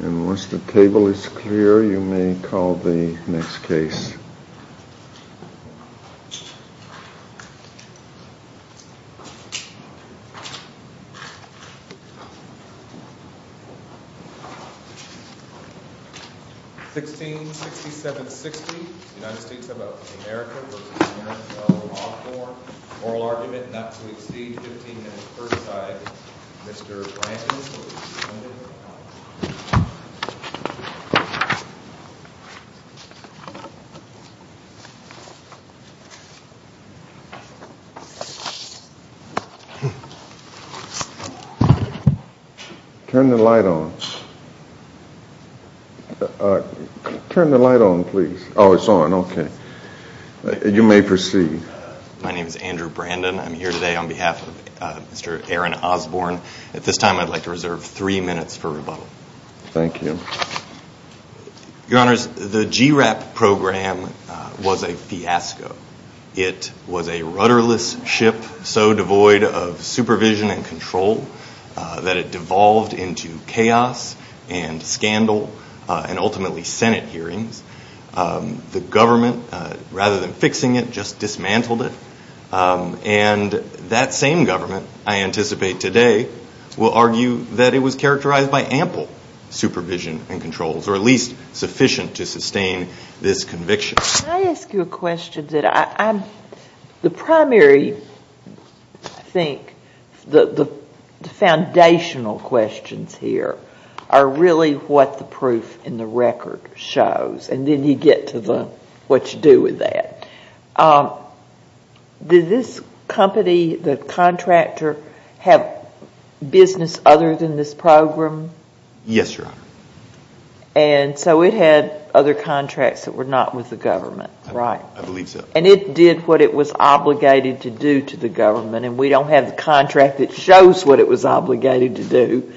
And once the table is clear, you may call the next case. 166760, United States of America v. Aaron Osborne Oral argument not to exceed 15 minutes per side. Turn the light on. Turn the light on, please. Oh, it's on. Okay. You may proceed. My name is Andrew Brandon. I'm here today on behalf of Mr. Aaron Osborne. At this time, I'd like to reserve three minutes for rebuttal. Thank you. Your Honors, the GRAP program was a fiasco. It was a rudderless ship so devoid of supervision and control that it devolved into chaos and scandal and ultimately Senate hearings. The government, rather than fixing it, just dismantled it. And that same government, I anticipate today, will argue that it was characterized by ample supervision and controls or at least sufficient to sustain this conviction. Can I ask you a question? The primary, I think, the foundational questions here are really what the proof in the record shows. And then you get to what you do with that. Did this company, the contractor, have business other than this program? Yes, Your Honor. And so it had other contracts that were not with the government, right? I believe so. And it did what it was obligated to do to the government. And we don't have the contract that shows what it was obligated to do.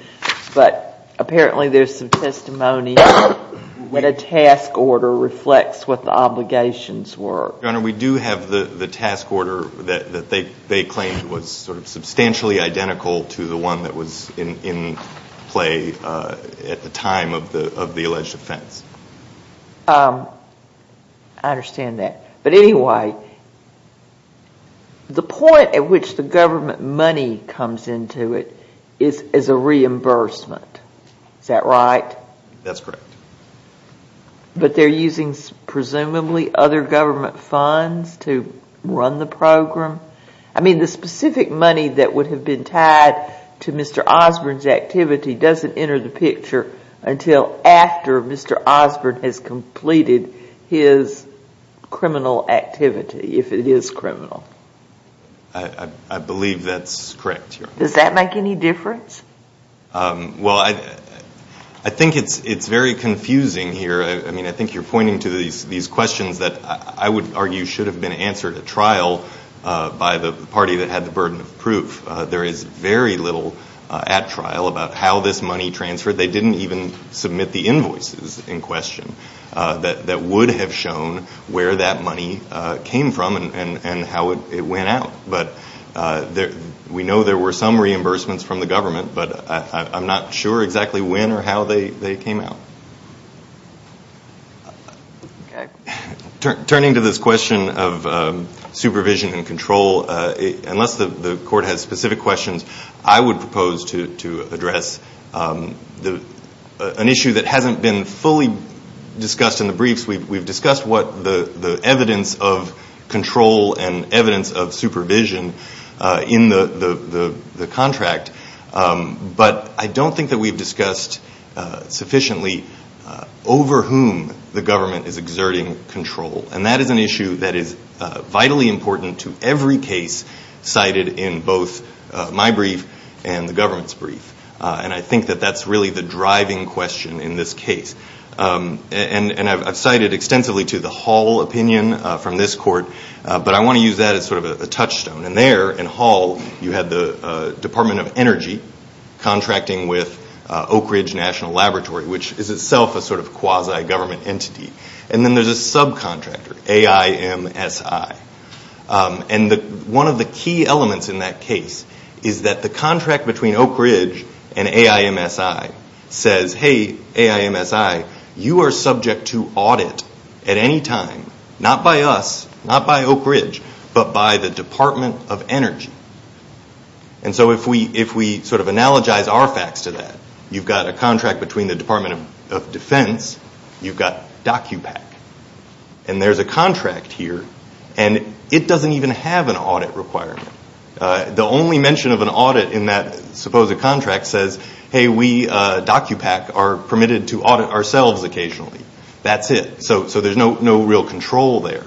But apparently there's some testimony when a task order reflects what the obligations were. Your Honor, we do have the task order that they claimed was substantially identical to the one that was in play at the time of the alleged offense. I understand that. But anyway, the point at which the government money comes into it is a reimbursement. Is that right? That's correct. But they're using presumably other government funds to run the program? I mean, the specific money that would have been tied to Mr. Osborne's activity doesn't enter the picture until after Mr. Osborne has completed his criminal activity, if it is criminal. I believe that's correct, Your Honor. Does that make any difference? Well, I think it's very confusing here. I mean, I think you're pointing to these questions that I would argue should have been answered at trial by the party that had the burden of proof. There is very little at trial about how this money transferred. They didn't even submit the invoices in question that would have shown where that money came from and how it went out. We know there were some reimbursements from the government, but I'm not sure exactly when or how they came out. Okay. Turning to this question of supervision and control, unless the Court has specific questions, I would propose to address an issue that hasn't been fully discussed in the briefs. We've discussed the evidence of control and evidence of supervision in the contract, but I don't think that we've discussed sufficiently over whom the government is exerting control. And that is an issue that is vitally important to every case cited in both my brief and the government's brief. And I think that that's really the driving question in this case. And I've cited extensively to the Hall opinion from this Court, but I want to use that as sort of a touchstone. And there in Hall, you had the Department of Energy contracting with Oak Ridge National Laboratory, which is itself a sort of quasi-government entity. And then there's a subcontractor, AIMSI. And one of the key elements in that case is that the contract between Oak Ridge and AIMSI says, hey, AIMSI, you are subject to audit at any time, not by us, not by Oak Ridge, but by the Department of Energy. And so if we sort of analogize our facts to that, you've got a contract between the Department of Defense, you've got DOCUPAC. And there's a contract here, and it doesn't even have an audit requirement. The only mention of an audit in that supposed contract says, hey, we, DOCUPAC, are permitted to audit ourselves occasionally. That's it. So there's no real control there.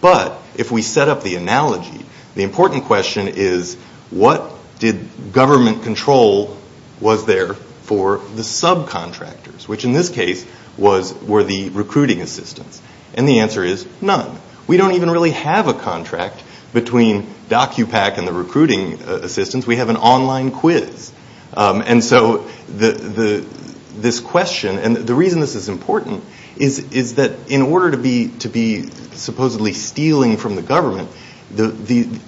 But if we set up the analogy, the important question is what did government control was there for the subcontractors, which in this case were the recruiting assistants. And the answer is none. We don't even really have a contract between DOCUPAC and the recruiting assistants. We have an online quiz. And so this question, and the reason this is important, is that in order to be supposedly stealing from the government,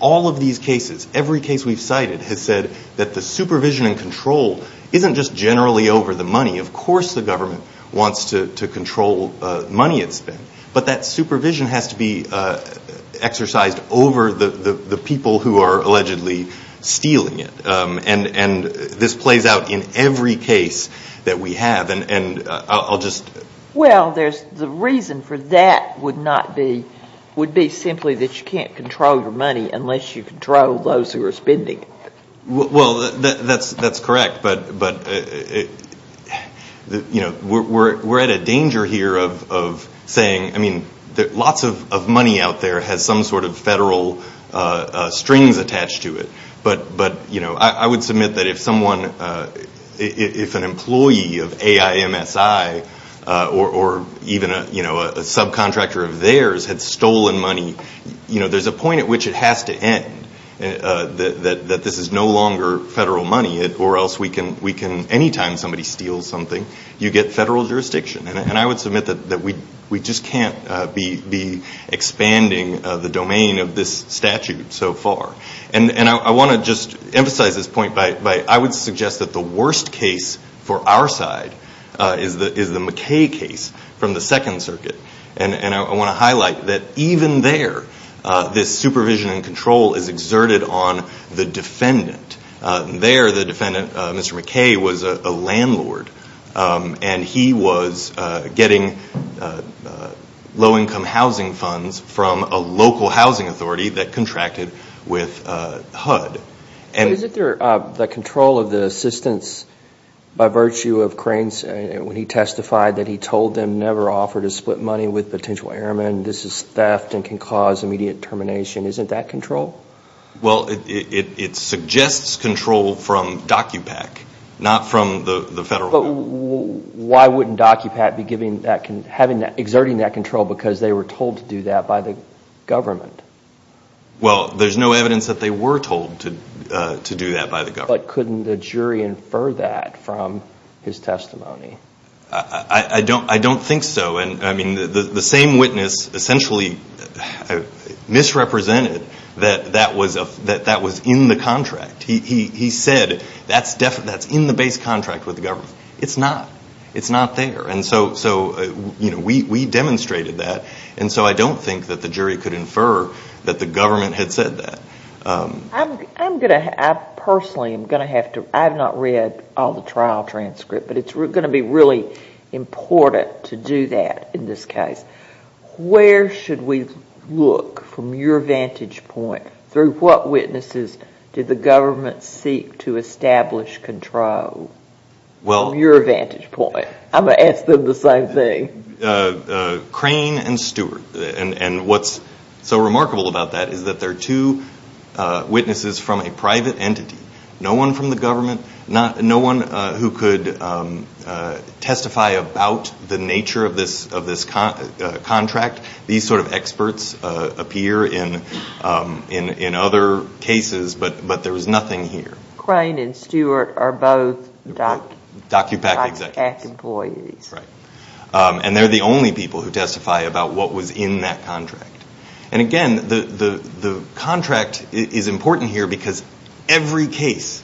all of these cases, every case we've cited, has said that the supervision and control isn't just generally over the money. Of course the government wants to control money it spends. But that supervision has to be exercised over the people who are allegedly stealing it. And this plays out in every case that we have. And I'll just ‑‑ Well, the reason for that would be simply that you can't control your money unless you control those who are spending it. Well, that's correct. But we're at a danger here of saying, I mean, lots of money out there has some sort of federal strings attached to it. But I would submit that if someone, if an employee of AIMSI or even a subcontractor of theirs had stolen money, you know, there's a point at which it has to end, that this is no longer federal money, or else we can, any time somebody steals something, you get federal jurisdiction. And I would submit that we just can't be expanding the domain of this statute so far. And I want to just emphasize this point by I would suggest that the worst case for our side is the McKay case from the Second Circuit. And I want to highlight that even there, this supervision and control is exerted on the defendant. There, the defendant, Mr. McKay, was a landlord. And he was getting low‑income housing funds from a local housing authority that contracted with HUD. But isn't there the control of the assistance by virtue of Crain's, when he testified that he told them never offer to split money with potential airmen, this is theft and can cause immediate termination, isn't that control? Well, it suggests control from DOCUPAC, not from the federal government. But why wouldn't DOCUPAC be giving that, having that, exerting that control because they were told to do that by the government? Well, there's no evidence that they were told to do that by the government. But couldn't the jury infer that from his testimony? I don't think so. And, I mean, the same witness essentially misrepresented that that was in the contract. He said that's in the base contract with the government. It's not. It's not there. And so, you know, we demonstrated that. And so I don't think that the jury could infer that the government had said that. I'm going to, I personally am going to have to, I have not read all the trial transcript, but it's going to be really important to do that in this case. Where should we look from your vantage point? Through what witnesses did the government seek to establish control? From your vantage point. I'm going to ask them the same thing. Crane and Stewart. And what's so remarkable about that is that they're two witnesses from a private entity. No one from the government, no one who could testify about the nature of this contract. These sort of experts appear in other cases, but there was nothing here. Crane and Stewart are both DocuPact employees. Right. And they're the only people who testify about what was in that contract. And, again, the contract is important here because every case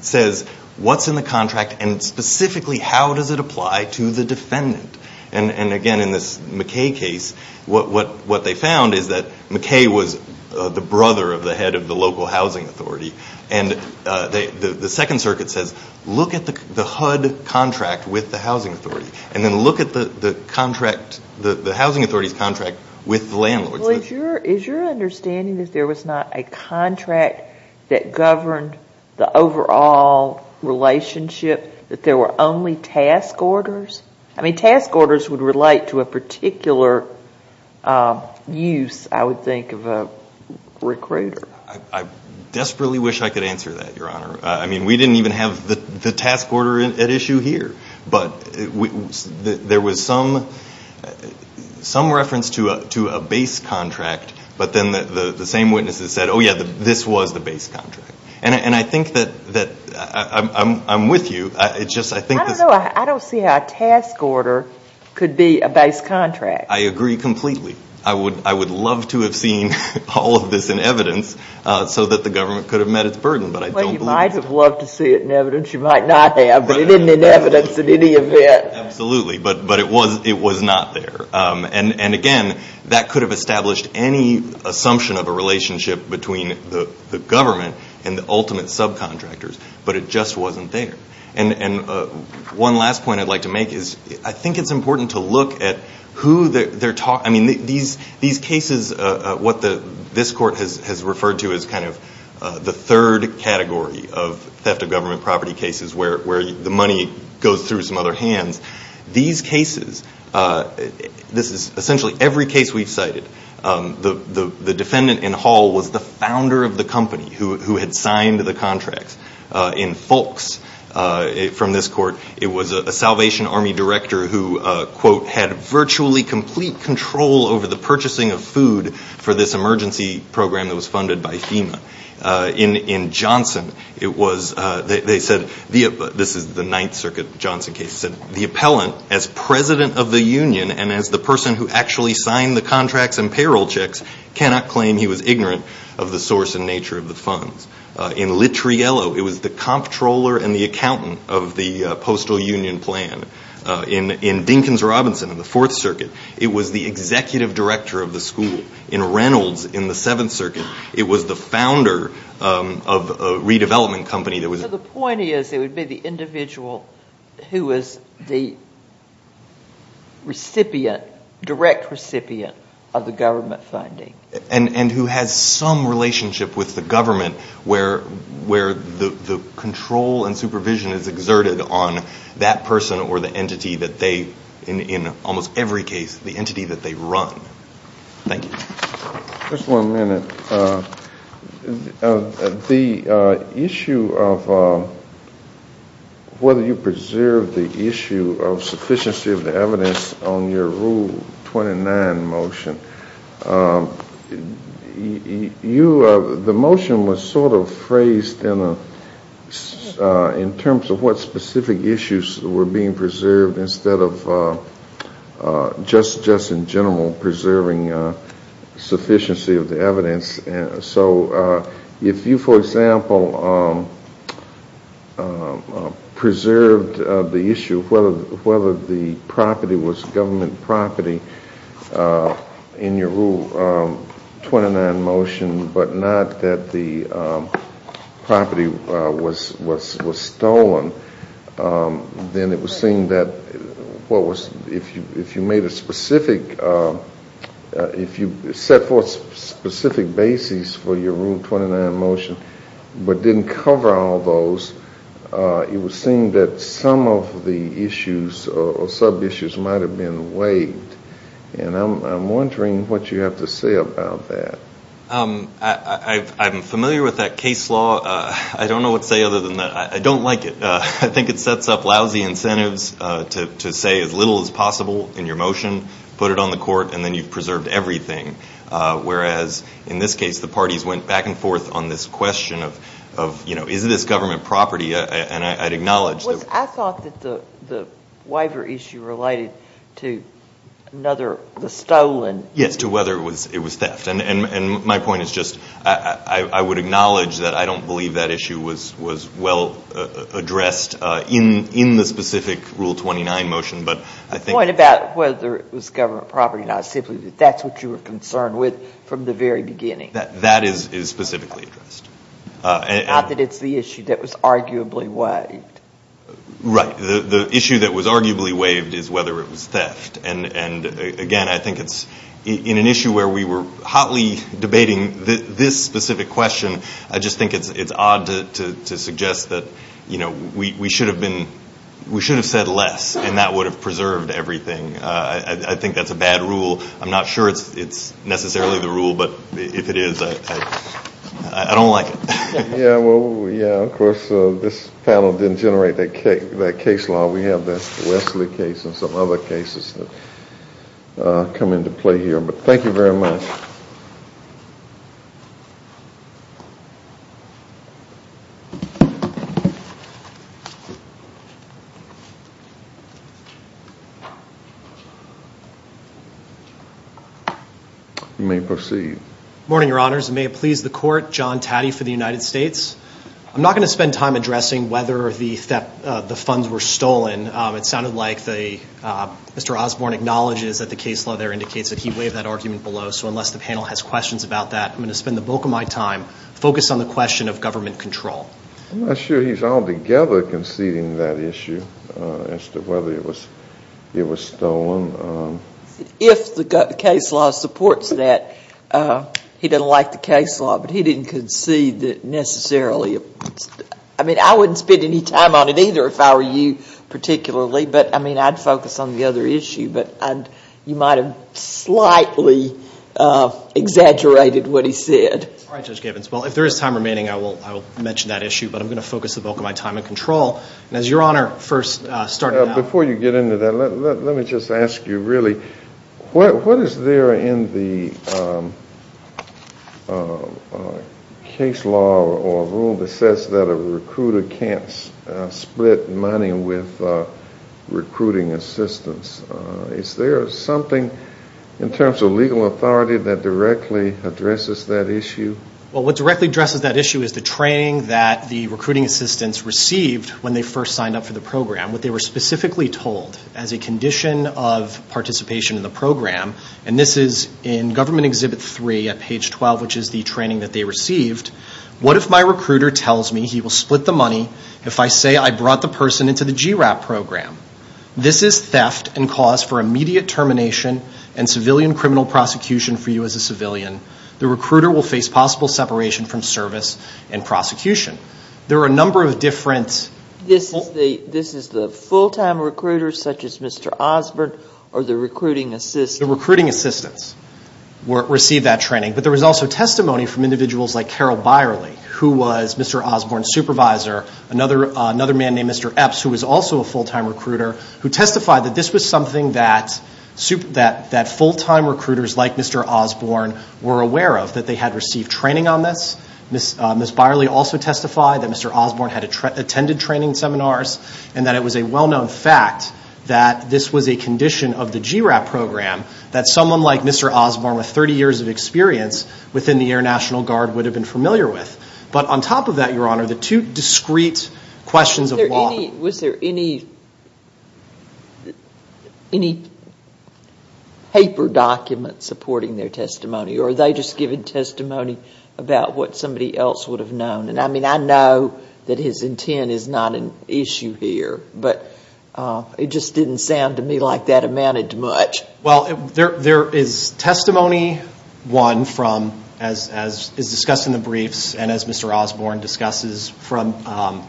says what's in the contract and specifically how does it apply to the defendant. And, again, in this McKay case, what they found is that McKay was the brother of the head of the local housing authority. And the Second Circuit says look at the HUD contract with the housing authority and then look at the housing authority's contract with the landlord. Is your understanding that there was not a contract that governed the overall relationship, that there were only task orders? I mean, task orders would relate to a particular use, I would think, of a recruiter. I desperately wish I could answer that, Your Honor. I mean, we didn't even have the task order at issue here. But there was some reference to a base contract, but then the same witnesses said, oh, yeah, this was the base contract. And I think that I'm with you. I don't know. I don't see how a task order could be a base contract. I agree completely. I would love to have seen all of this in evidence so that the government could have met its burden, but I don't believe it. Well, you might have loved to see it in evidence. You might not have, but it isn't in evidence in any event. Absolutely, but it was not there. And, again, that could have established any assumption of a relationship between the government and the ultimate subcontractors, but it just wasn't there. And one last point I'd like to make is I think it's important to look at who they're talking to. I mean, these cases, what this court has referred to as kind of the third category of theft of government property cases where the money goes through some other hands, these cases, this is essentially every case we've cited. The defendant in Hall was the founder of the company who had signed the contracts in folks from this court. It was a Salvation Army director who, quote, had virtually complete control over the purchasing of food for this emergency program that was funded by FEMA. In Johnson, they said, this is the Ninth Circuit Johnson case, said, the appellant as president of the union and as the person who actually signed the contracts and payroll checks cannot claim he was ignorant of the source and nature of the funds. In Littriello, it was the comptroller and the accountant of the postal union plan. In Dinkins-Robinson in the Fourth Circuit, it was the executive director of the school. In Reynolds in the Seventh Circuit, it was the founder of a redevelopment company that was- So the point is it would be the individual who was the recipient, direct recipient of the government funding. And who has some relationship with the government where the control and supervision is exerted on that person or the entity that they, in almost every case, the entity that they run. Thank you. Just one minute. The issue of whether you preserve the issue of sufficiency of the evidence on your Rule 29 motion, the motion was sort of phrased in terms of what specific issues were being preserved instead of just in general preserving sufficiency of the evidence. So if you, for example, preserved the issue of whether the property was government property in your Rule 29 motion but not that the property was stolen, then it would seem that if you made a specific- if you set forth specific bases for your Rule 29 motion but didn't cover all those, it would seem that some of the issues or sub-issues might have been waived. And I'm wondering what you have to say about that. I'm familiar with that case law. I don't know what to say other than I don't like it. I think it sets up lousy incentives to say as little as possible in your motion, put it on the court, and then you've preserved everything. Whereas in this case, the parties went back and forth on this question of, you know, is this government property? And I'd acknowledge that- I thought that the waiver issue related to another- the stolen- Yes, to whether it was theft. And my point is just I would acknowledge that I don't believe that issue was well addressed in the specific Rule 29 motion, but I think- The point about whether it was government property or not is simply that that's what you were concerned with from the very beginning. That is specifically addressed. Not that it's the issue that was arguably waived. Right. The issue that was arguably waived is whether it was theft. And, again, I think it's- in an issue where we were hotly debating this specific question, I just think it's odd to suggest that, you know, we should have been- we should have said less, and that would have preserved everything. I think that's a bad rule. I'm not sure it's necessarily the rule. But if it is, I don't like it. Yeah, well, yeah, of course, this panel didn't generate that case law. We have the Wesley case and some other cases that come into play here. But thank you very much. Thank you. You may proceed. Good morning, Your Honors. May it please the Court, John Taddy for the United States. I'm not going to spend time addressing whether the funds were stolen. It sounded like Mr. Osborne acknowledges that the case law there indicates that he waived that argument below. So unless the panel has questions about that, I'm going to spend the bulk of my time focused on the question of government control. I'm not sure he's altogether conceding that issue as to whether it was stolen. If the case law supports that, he doesn't like the case law, but he didn't concede that necessarily. I mean, I wouldn't spend any time on it either if I were you particularly, but, I mean, I'd focus on the other issue. But you might have slightly exaggerated what he said. All right, Judge Gavins. Well, if there is time remaining, I will mention that issue. But I'm going to focus the bulk of my time on control. And as Your Honor first started out. Before you get into that, let me just ask you really, what is there in the case law or rule that says that a recruiter can't split money with recruiting assistants? Is there something in terms of legal authority that directly addresses that issue? Well, what directly addresses that issue is the training that the recruiting assistants received when they first signed up for the program. What they were specifically told as a condition of participation in the program, and this is in Government Exhibit 3 at page 12, which is the training that they received. What if my recruiter tells me he will split the money if I say I brought the person into the GRAP program? This is theft and cause for immediate termination and civilian criminal prosecution for you as a civilian. The recruiter will face possible separation from service and prosecution. There are a number of different... This is the full-time recruiter, such as Mr. Osborne, or the recruiting assistant? The recruiting assistants received that training. But there was also testimony from individuals like Carol Byerly, who was Mr. Osborne's supervisor. Another man named Mr. Epps, who was also a full-time recruiter, who testified that this was something that full-time recruiters like Mr. Osborne were aware of, that they had received training on this. Ms. Byerly also testified that Mr. Osborne had attended training seminars and that it was a well-known fact that this was a condition of the GRAP program that someone like Mr. Osborne, with 30 years of experience within the Air National Guard, would have been familiar with. But on top of that, Your Honor, the two discrete questions of law... Was there any paper document supporting their testimony? Or were they just giving testimony about what somebody else would have known? I mean, I know that his intent is not an issue here, but it just didn't sound to me like that amounted to much. Well, there is testimony, one, as is discussed in the briefs and as Mr. Osborne discusses, from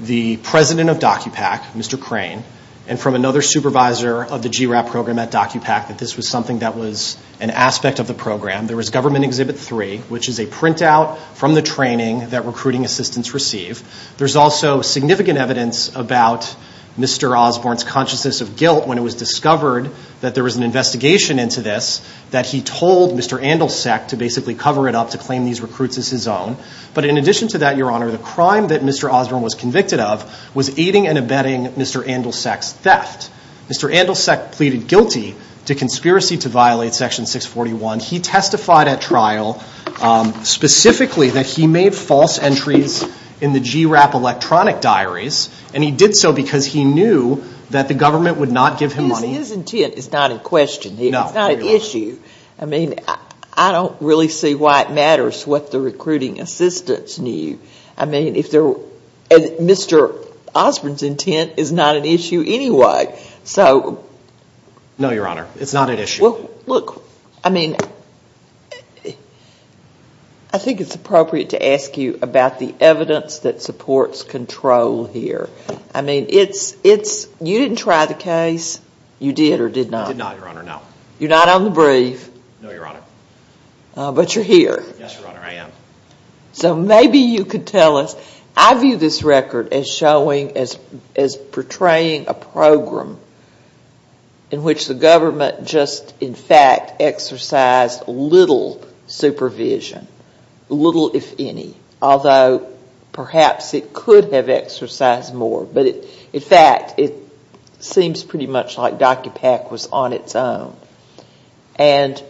the president of DOCUPAC, Mr. Crane, and from another supervisor of the GRAP program at DOCUPAC, that this was something that was an aspect of the program. There was Government Exhibit 3, which is a printout from the training that recruiting assistants receive. There's also significant evidence about Mr. Osborne's consciousness of guilt when it was discovered that there was an investigation into this, that he told Mr. Andelsack to basically cover it up, to claim these recruits as his own. But in addition to that, Your Honor, the crime that Mr. Osborne was convicted of was aiding and abetting Mr. Andelsack's theft. Mr. Andelsack pleaded guilty to conspiracy to violate Section 641. He testified at trial specifically that he made false entries in the GRAP electronic diaries, and he did so because he knew that the government would not give him money. His intent is not in question here. It's not an issue. I mean, I don't really see why it matters what the recruiting assistants knew. I mean, Mr. Osborne's intent is not an issue anyway. No, Your Honor, it's not an issue. Look, I mean, I think it's appropriate to ask you about the evidence that supports control here. I mean, you didn't try the case. You did or did not? I did not, Your Honor, no. You're not on the brief. No, Your Honor. But you're here. Yes, Your Honor, I am. So maybe you could tell us. I view this record as showing, as portraying a program in which the government just, in fact, exercised little supervision, little if any, although perhaps it could have exercised more. But in fact, it seems pretty much like DocuPack was on its own. And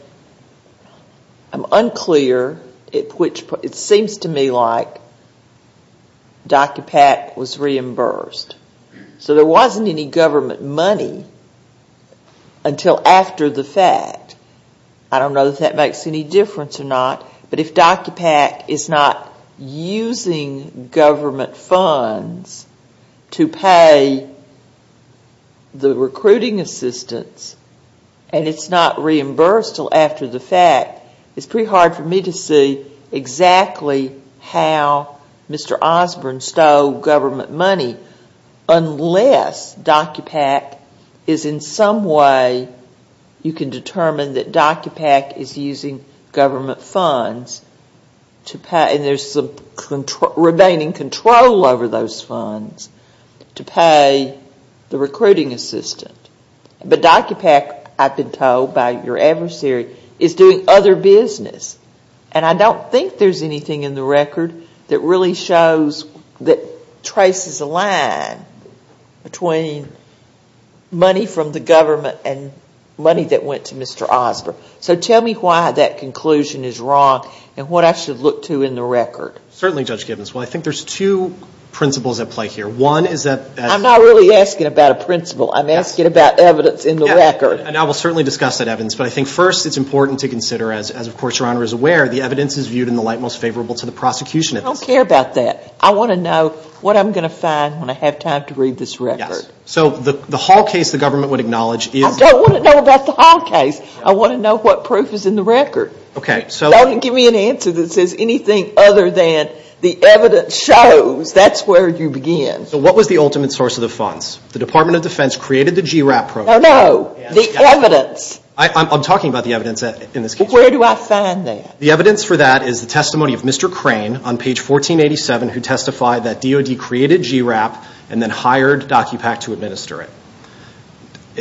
I'm unclear at which point. It seems to me like DocuPack was reimbursed. So there wasn't any government money until after the fact. I don't know if that makes any difference or not. But if DocuPack is not using government funds to pay the recruiting assistants and it's not reimbursed until after the fact, it's pretty hard for me to see exactly how Mr. Osborne stole government money unless DocuPack is in some way, you can determine that DocuPack is using government funds and there's some remaining control over those funds to pay the recruiting assistant. But DocuPack, I've been told by your adversary, is doing other business. And I don't think there's anything in the record that really shows, that traces a line between money from the government and money that went to Mr. Osborne. So tell me why that conclusion is wrong and what I should look to in the record. Certainly, Judge Gibbons. Well, I think there's two principles at play here. One is that as— I'm not really asking about a principle. I'm asking about evidence in the record. And I will certainly discuss that evidence. But I think first it's important to consider, as of course Your Honor is aware, the evidence is viewed in the light most favorable to the prosecution. I don't care about that. I want to know what I'm going to find when I have time to read this record. Yes. So the Hall case the government would acknowledge is— I don't want to know about the Hall case. I want to know what proof is in the record. Okay, so— Don't give me an answer that says anything other than the evidence shows that's where you begin. So what was the ultimate source of the funds? The Department of Defense created the GRAP program. No, no. The evidence. I'm talking about the evidence in this case. Where do I find that? The evidence for that is the testimony of Mr. Crane on page 1487, who testified that DOD created GRAP and then hired DOCUPAC to administer it.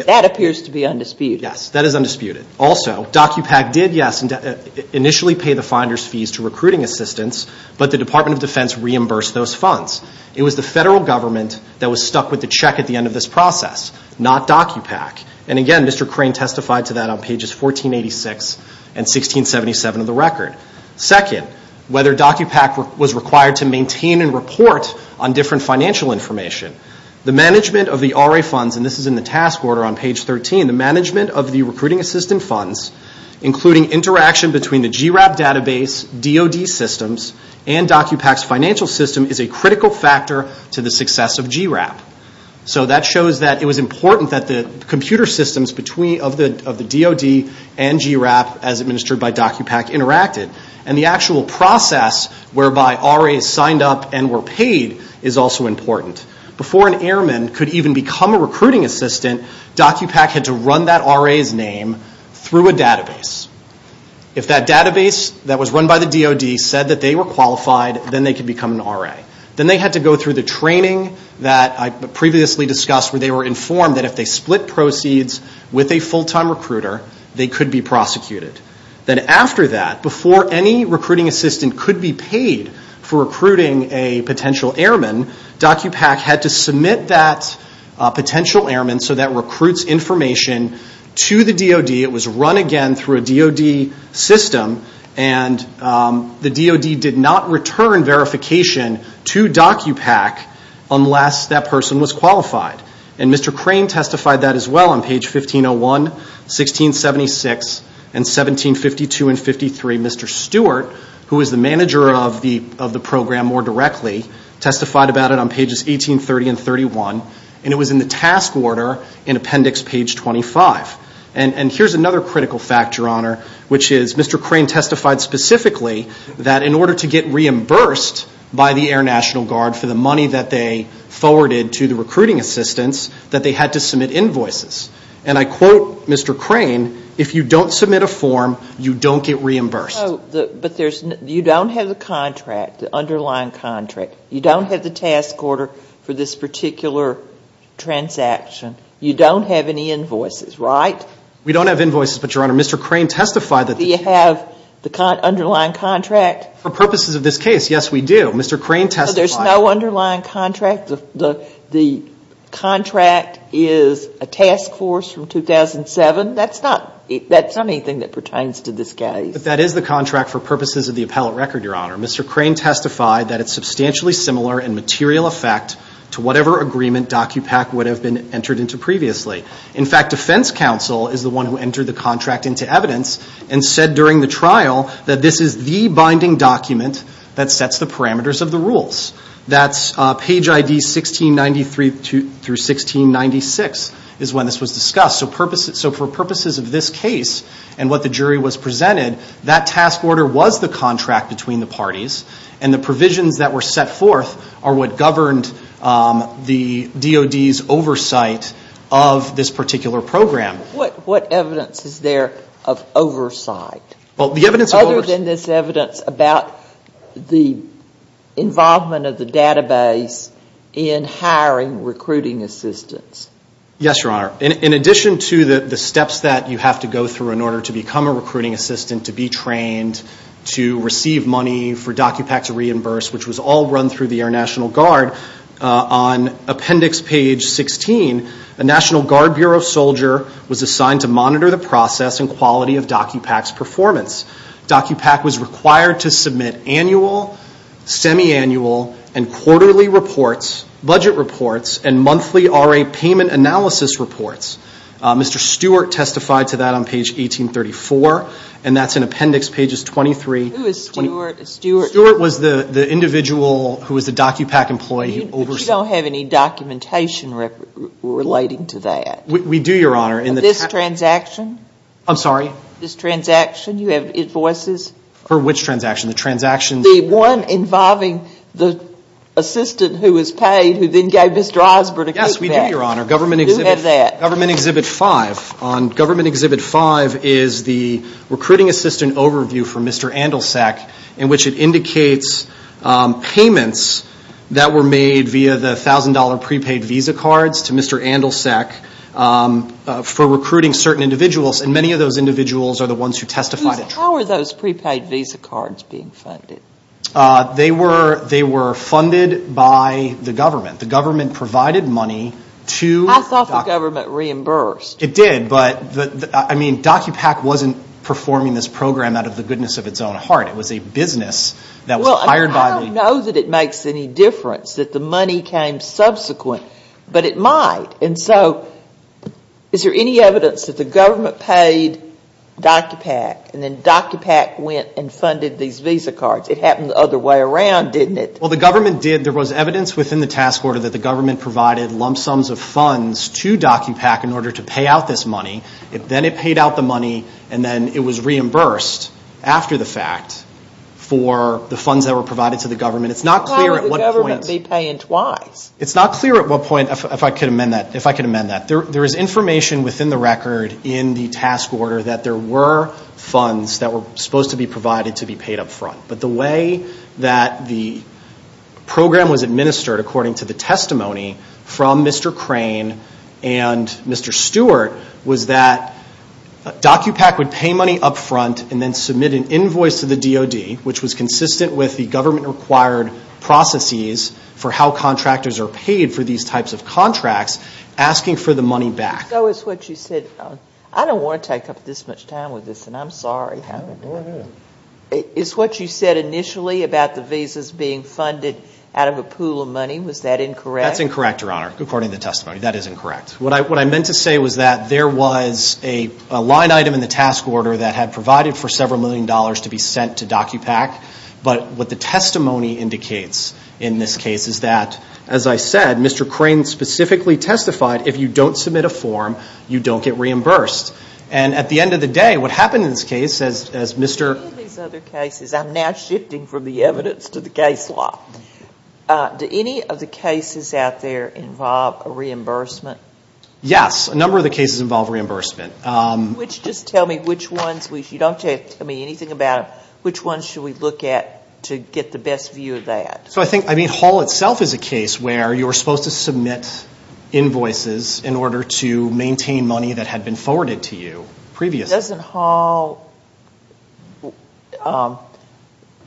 That appears to be undisputed. Yes, that is undisputed. Also, DOCUPAC did, yes, initially pay the finder's fees to recruiting assistants, but the Department of Defense reimbursed those funds. It was the federal government that was stuck with the check at the end of this process, not DOCUPAC. And again, Mr. Crane testified to that on pages 1486 and 1677 of the record. Second, whether DOCUPAC was required to maintain and report on different financial information. The management of the RA funds, and this is in the task order on page 13, the management of the recruiting assistant funds, including interaction between the GRAP database, DOD systems, and DOCUPAC's financial system is a critical factor to the success of GRAP. So that shows that it was important that the computer systems of the DOD and GRAP, as administered by DOCUPAC, interacted. And the actual process whereby RAs signed up and were paid is also important. Before an airman could even become a recruiting assistant, DOCUPAC had to run that RA's name through a database. If that database that was run by the DOD said that they were qualified, then they could become an RA. Then they had to go through the training that I previously discussed, where they were informed that if they split proceeds with a full-time recruiter, they could be prosecuted. Then after that, before any recruiting assistant could be paid for recruiting a potential airman, DOCUPAC had to submit that potential airman so that recruits information to the DOD. It was run again through a DOD system, and the DOD did not return verification to DOCUPAC unless that person was qualified. And Mr. Crane testified that as well on page 1501, 1676, and 1752 and 1753. Mr. Stewart, who is the manager of the program more directly, testified about it on pages 1830 and 1831, and it was in the task order in appendix page 25. And here's another critical fact, Your Honor, which is Mr. Crane testified specifically that in order to get reimbursed by the Air National Guard for the money that they forwarded to the recruiting assistants, that they had to submit invoices. And I quote Mr. Crane, if you don't submit a form, you don't get reimbursed. But you don't have the contract, the underlying contract. You don't have the task order for this particular transaction. You don't have any invoices, right? We don't have invoices, but, Your Honor, Mr. Crane testified that. Do you have the underlying contract? For purposes of this case, yes, we do. Mr. Crane testified. But there's no underlying contract? The contract is a task force from 2007? That's not anything that pertains to this case. But that is the contract for purposes of the appellate record, Your Honor. Mr. Crane testified that it's substantially similar in material effect to whatever agreement DOCUPAC would have been entered into previously. In fact, defense counsel is the one who entered the contract into evidence and said during the trial that this is the binding document that sets the parameters of the rules. That's page ID 1693 through 1696 is when this was discussed. So for purposes of this case and what the jury was presented, that task order was the contract between the parties, and the provisions that were set forth are what governed the DOD's oversight of this particular program. What evidence is there of oversight? Other than this evidence about the involvement of the database in hiring recruiting assistants? Yes, Your Honor. In addition to the steps that you have to go through in order to become a recruiting assistant, to be trained, to receive money for DOCUPAC to reimburse, which was all run through the Air National Guard, on appendix page 16, a National Guard Bureau soldier was assigned to monitor the process and quality of DOCUPAC's performance. DOCUPAC was required to submit annual, semi-annual, and quarterly reports, budget reports, and monthly RA payment analysis reports. Mr. Stewart testified to that on page 1834, and that's in appendix pages 23. Who is Stewart? Stewart was the individual who was the DOCUPAC employee who oversaw. But you don't have any documentation relating to that. We do, Your Honor. This transaction? I'm sorry? This transaction, you have invoices? For which transaction? The transactions? The one involving the assistant who was paid, who then gave Mr. Eisbert a kickback. Yes, we do, Your Honor. Who had that? Government Exhibit 5. On Government Exhibit 5 is the recruiting assistant overview for Mr. Andelsack, in which it indicates payments that were made via the $1,000 prepaid visa cards to Mr. Andelsack for recruiting certain individuals, and many of those individuals are the ones who testified at trial. How are those prepaid visa cards being funded? They were funded by the government. The government provided money to DOCUPAC. I thought the government reimbursed. It did, but DOCUPAC wasn't performing this program out of the goodness of its own heart. It was a business that was hired by the government. I don't know that it makes any difference that the money came subsequent, but it might. Is there any evidence that the government paid DOCUPAC, and then DOCUPAC went and funded these visa cards? It happened the other way around, didn't it? Well, the government did. There was evidence within the task order that the government provided lump sums of funds to DOCUPAC in order to pay out this money. Then it paid out the money, and then it was reimbursed after the fact for the funds that were provided to the government. How would the government be paying twice? It's not clear at what point, if I could amend that. There is information within the record in the task order that there were funds that were supposed to be provided to be paid up front. But the way that the program was administered, according to the testimony from Mr. Crane and Mr. Stewart, was that DOCUPAC would pay money up front and then submit an invoice to the DOD, which was consistent with the government-required processes for how contractors are paid for these types of contracts, asking for the money back. So it's what you said. I don't want to take up this much time with this, and I'm sorry. Go ahead. It's what you said initially about the visas being funded out of a pool of money. Was that incorrect? That's incorrect, Your Honor, according to the testimony. That is incorrect. What I meant to say was that there was a line item in the task order that had provided for several million dollars to be sent to DOCUPAC, but what the testimony indicates in this case is that, as I said, Mr. Crane specifically testified, if you don't submit a form, you don't get reimbursed. And at the end of the day, what happened in this case, as Mr. In any of these other cases, I'm now shifting from the evidence to the case law, do any of the cases out there involve a reimbursement? Yes. A number of the cases involve reimbursement. Just tell me which ones. You don't have to tell me anything about which ones should we look at to get the best view of that. So I think Hall itself is a case where you're supposed to submit invoices in order to maintain money that had been forwarded to you previously. Doesn't Hall,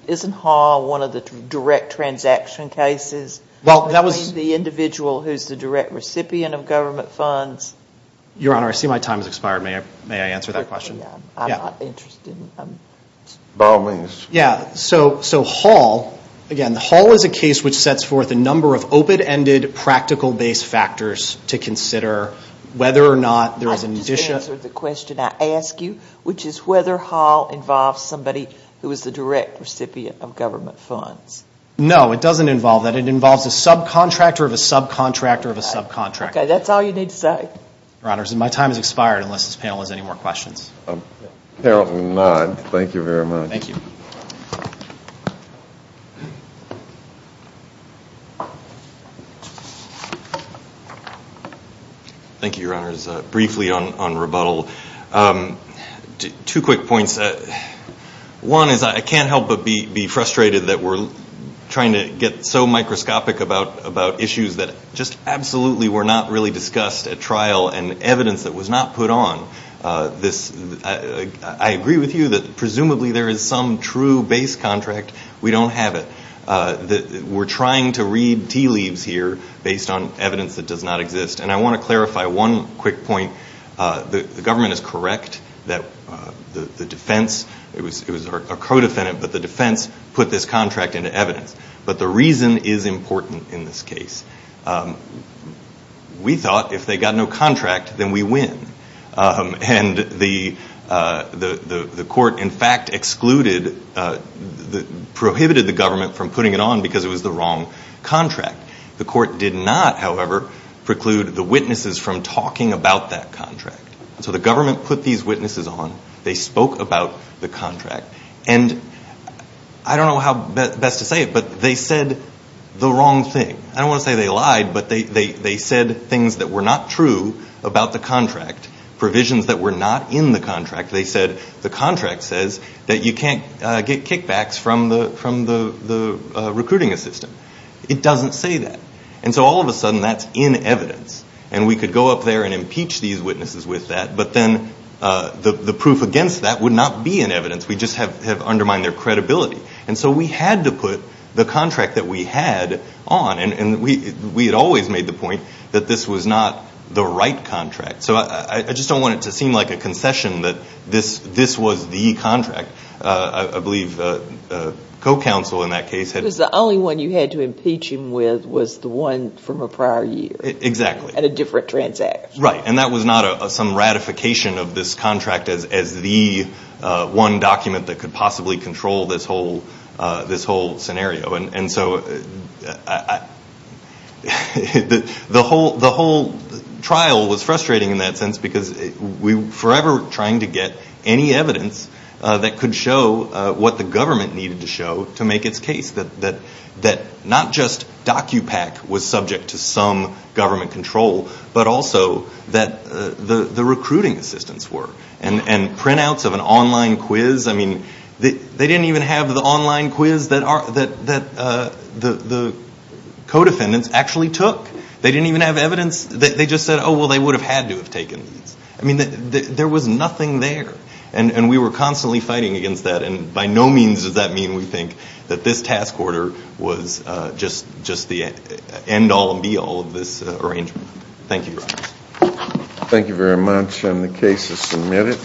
isn't Hall one of the direct transaction cases between the individual who's the direct recipient of government funds? Your Honor, I see my time has expired. May I answer that question? I'm not interested. By all means. Yeah, so Hall, again, Hall is a case which sets forth a number of open-ended, practical-based factors to consider whether or not there is an additional which is whether Hall involves somebody who is the direct recipient of government funds. No, it doesn't involve that. It involves a subcontractor of a subcontractor of a subcontractor. Okay, that's all you need to say. Your Honor, my time has expired unless this panel has any more questions. Apparently not. Thank you very much. Thank you. Thank you, Your Honors. Briefly on rebuttal, two quick points. One is I can't help but be frustrated that we're trying to get so microscopic about issues that just absolutely were not really discussed at trial and evidence that was not put on. I agree with you that presumably there is some true base contract. We don't have it. We're trying to read tea leaves here based on evidence that does not exist. And I want to clarify one quick point. The government is correct that the defense, it was a co-defendant, but the defense put this contract into evidence. But the reason is important in this case. We thought if they got no contract, then we win. And the court, in fact, excluded, prohibited the government from putting it on because it was the wrong contract. The court did not, however, preclude the witnesses from talking about that contract. So the government put these witnesses on. They spoke about the contract. And I don't know how best to say it, but they said the wrong thing. I don't want to say they lied, but they said things that were not true about the contract, provisions that were not in the contract. They said the contract says that you can't get kickbacks from the recruiting assistant. It doesn't say that. And so all of a sudden that's in evidence. And we could go up there and impeach these witnesses with that, but then the proof against that would not be in evidence. We just have undermined their credibility. And so we had to put the contract that we had on. And we had always made the point that this was not the right contract. So I just don't want it to seem like a concession that this was the contract. I believe the co-counsel in that case had. Because the only one you had to impeach him with was the one from a prior year. Exactly. At a different transaction. Right. And that was not some ratification of this contract as the one document that could possibly control this whole scenario. And so the whole trial was frustrating in that sense because we were forever trying to get any evidence that could show what the government needed to show to make its case. That not just DocuPack was subject to some government control, but also that the recruiting assistants were. And printouts of an online quiz. I mean, they didn't even have the online quiz that the co-defendants actually took. They didn't even have evidence. They just said, oh, well, they would have had to have taken these. I mean, there was nothing there. And we were constantly fighting against that. And by no means does that mean we think that this task order was just the end all and be all of this arrangement. Thank you. Thank you very much. And the case is submitted.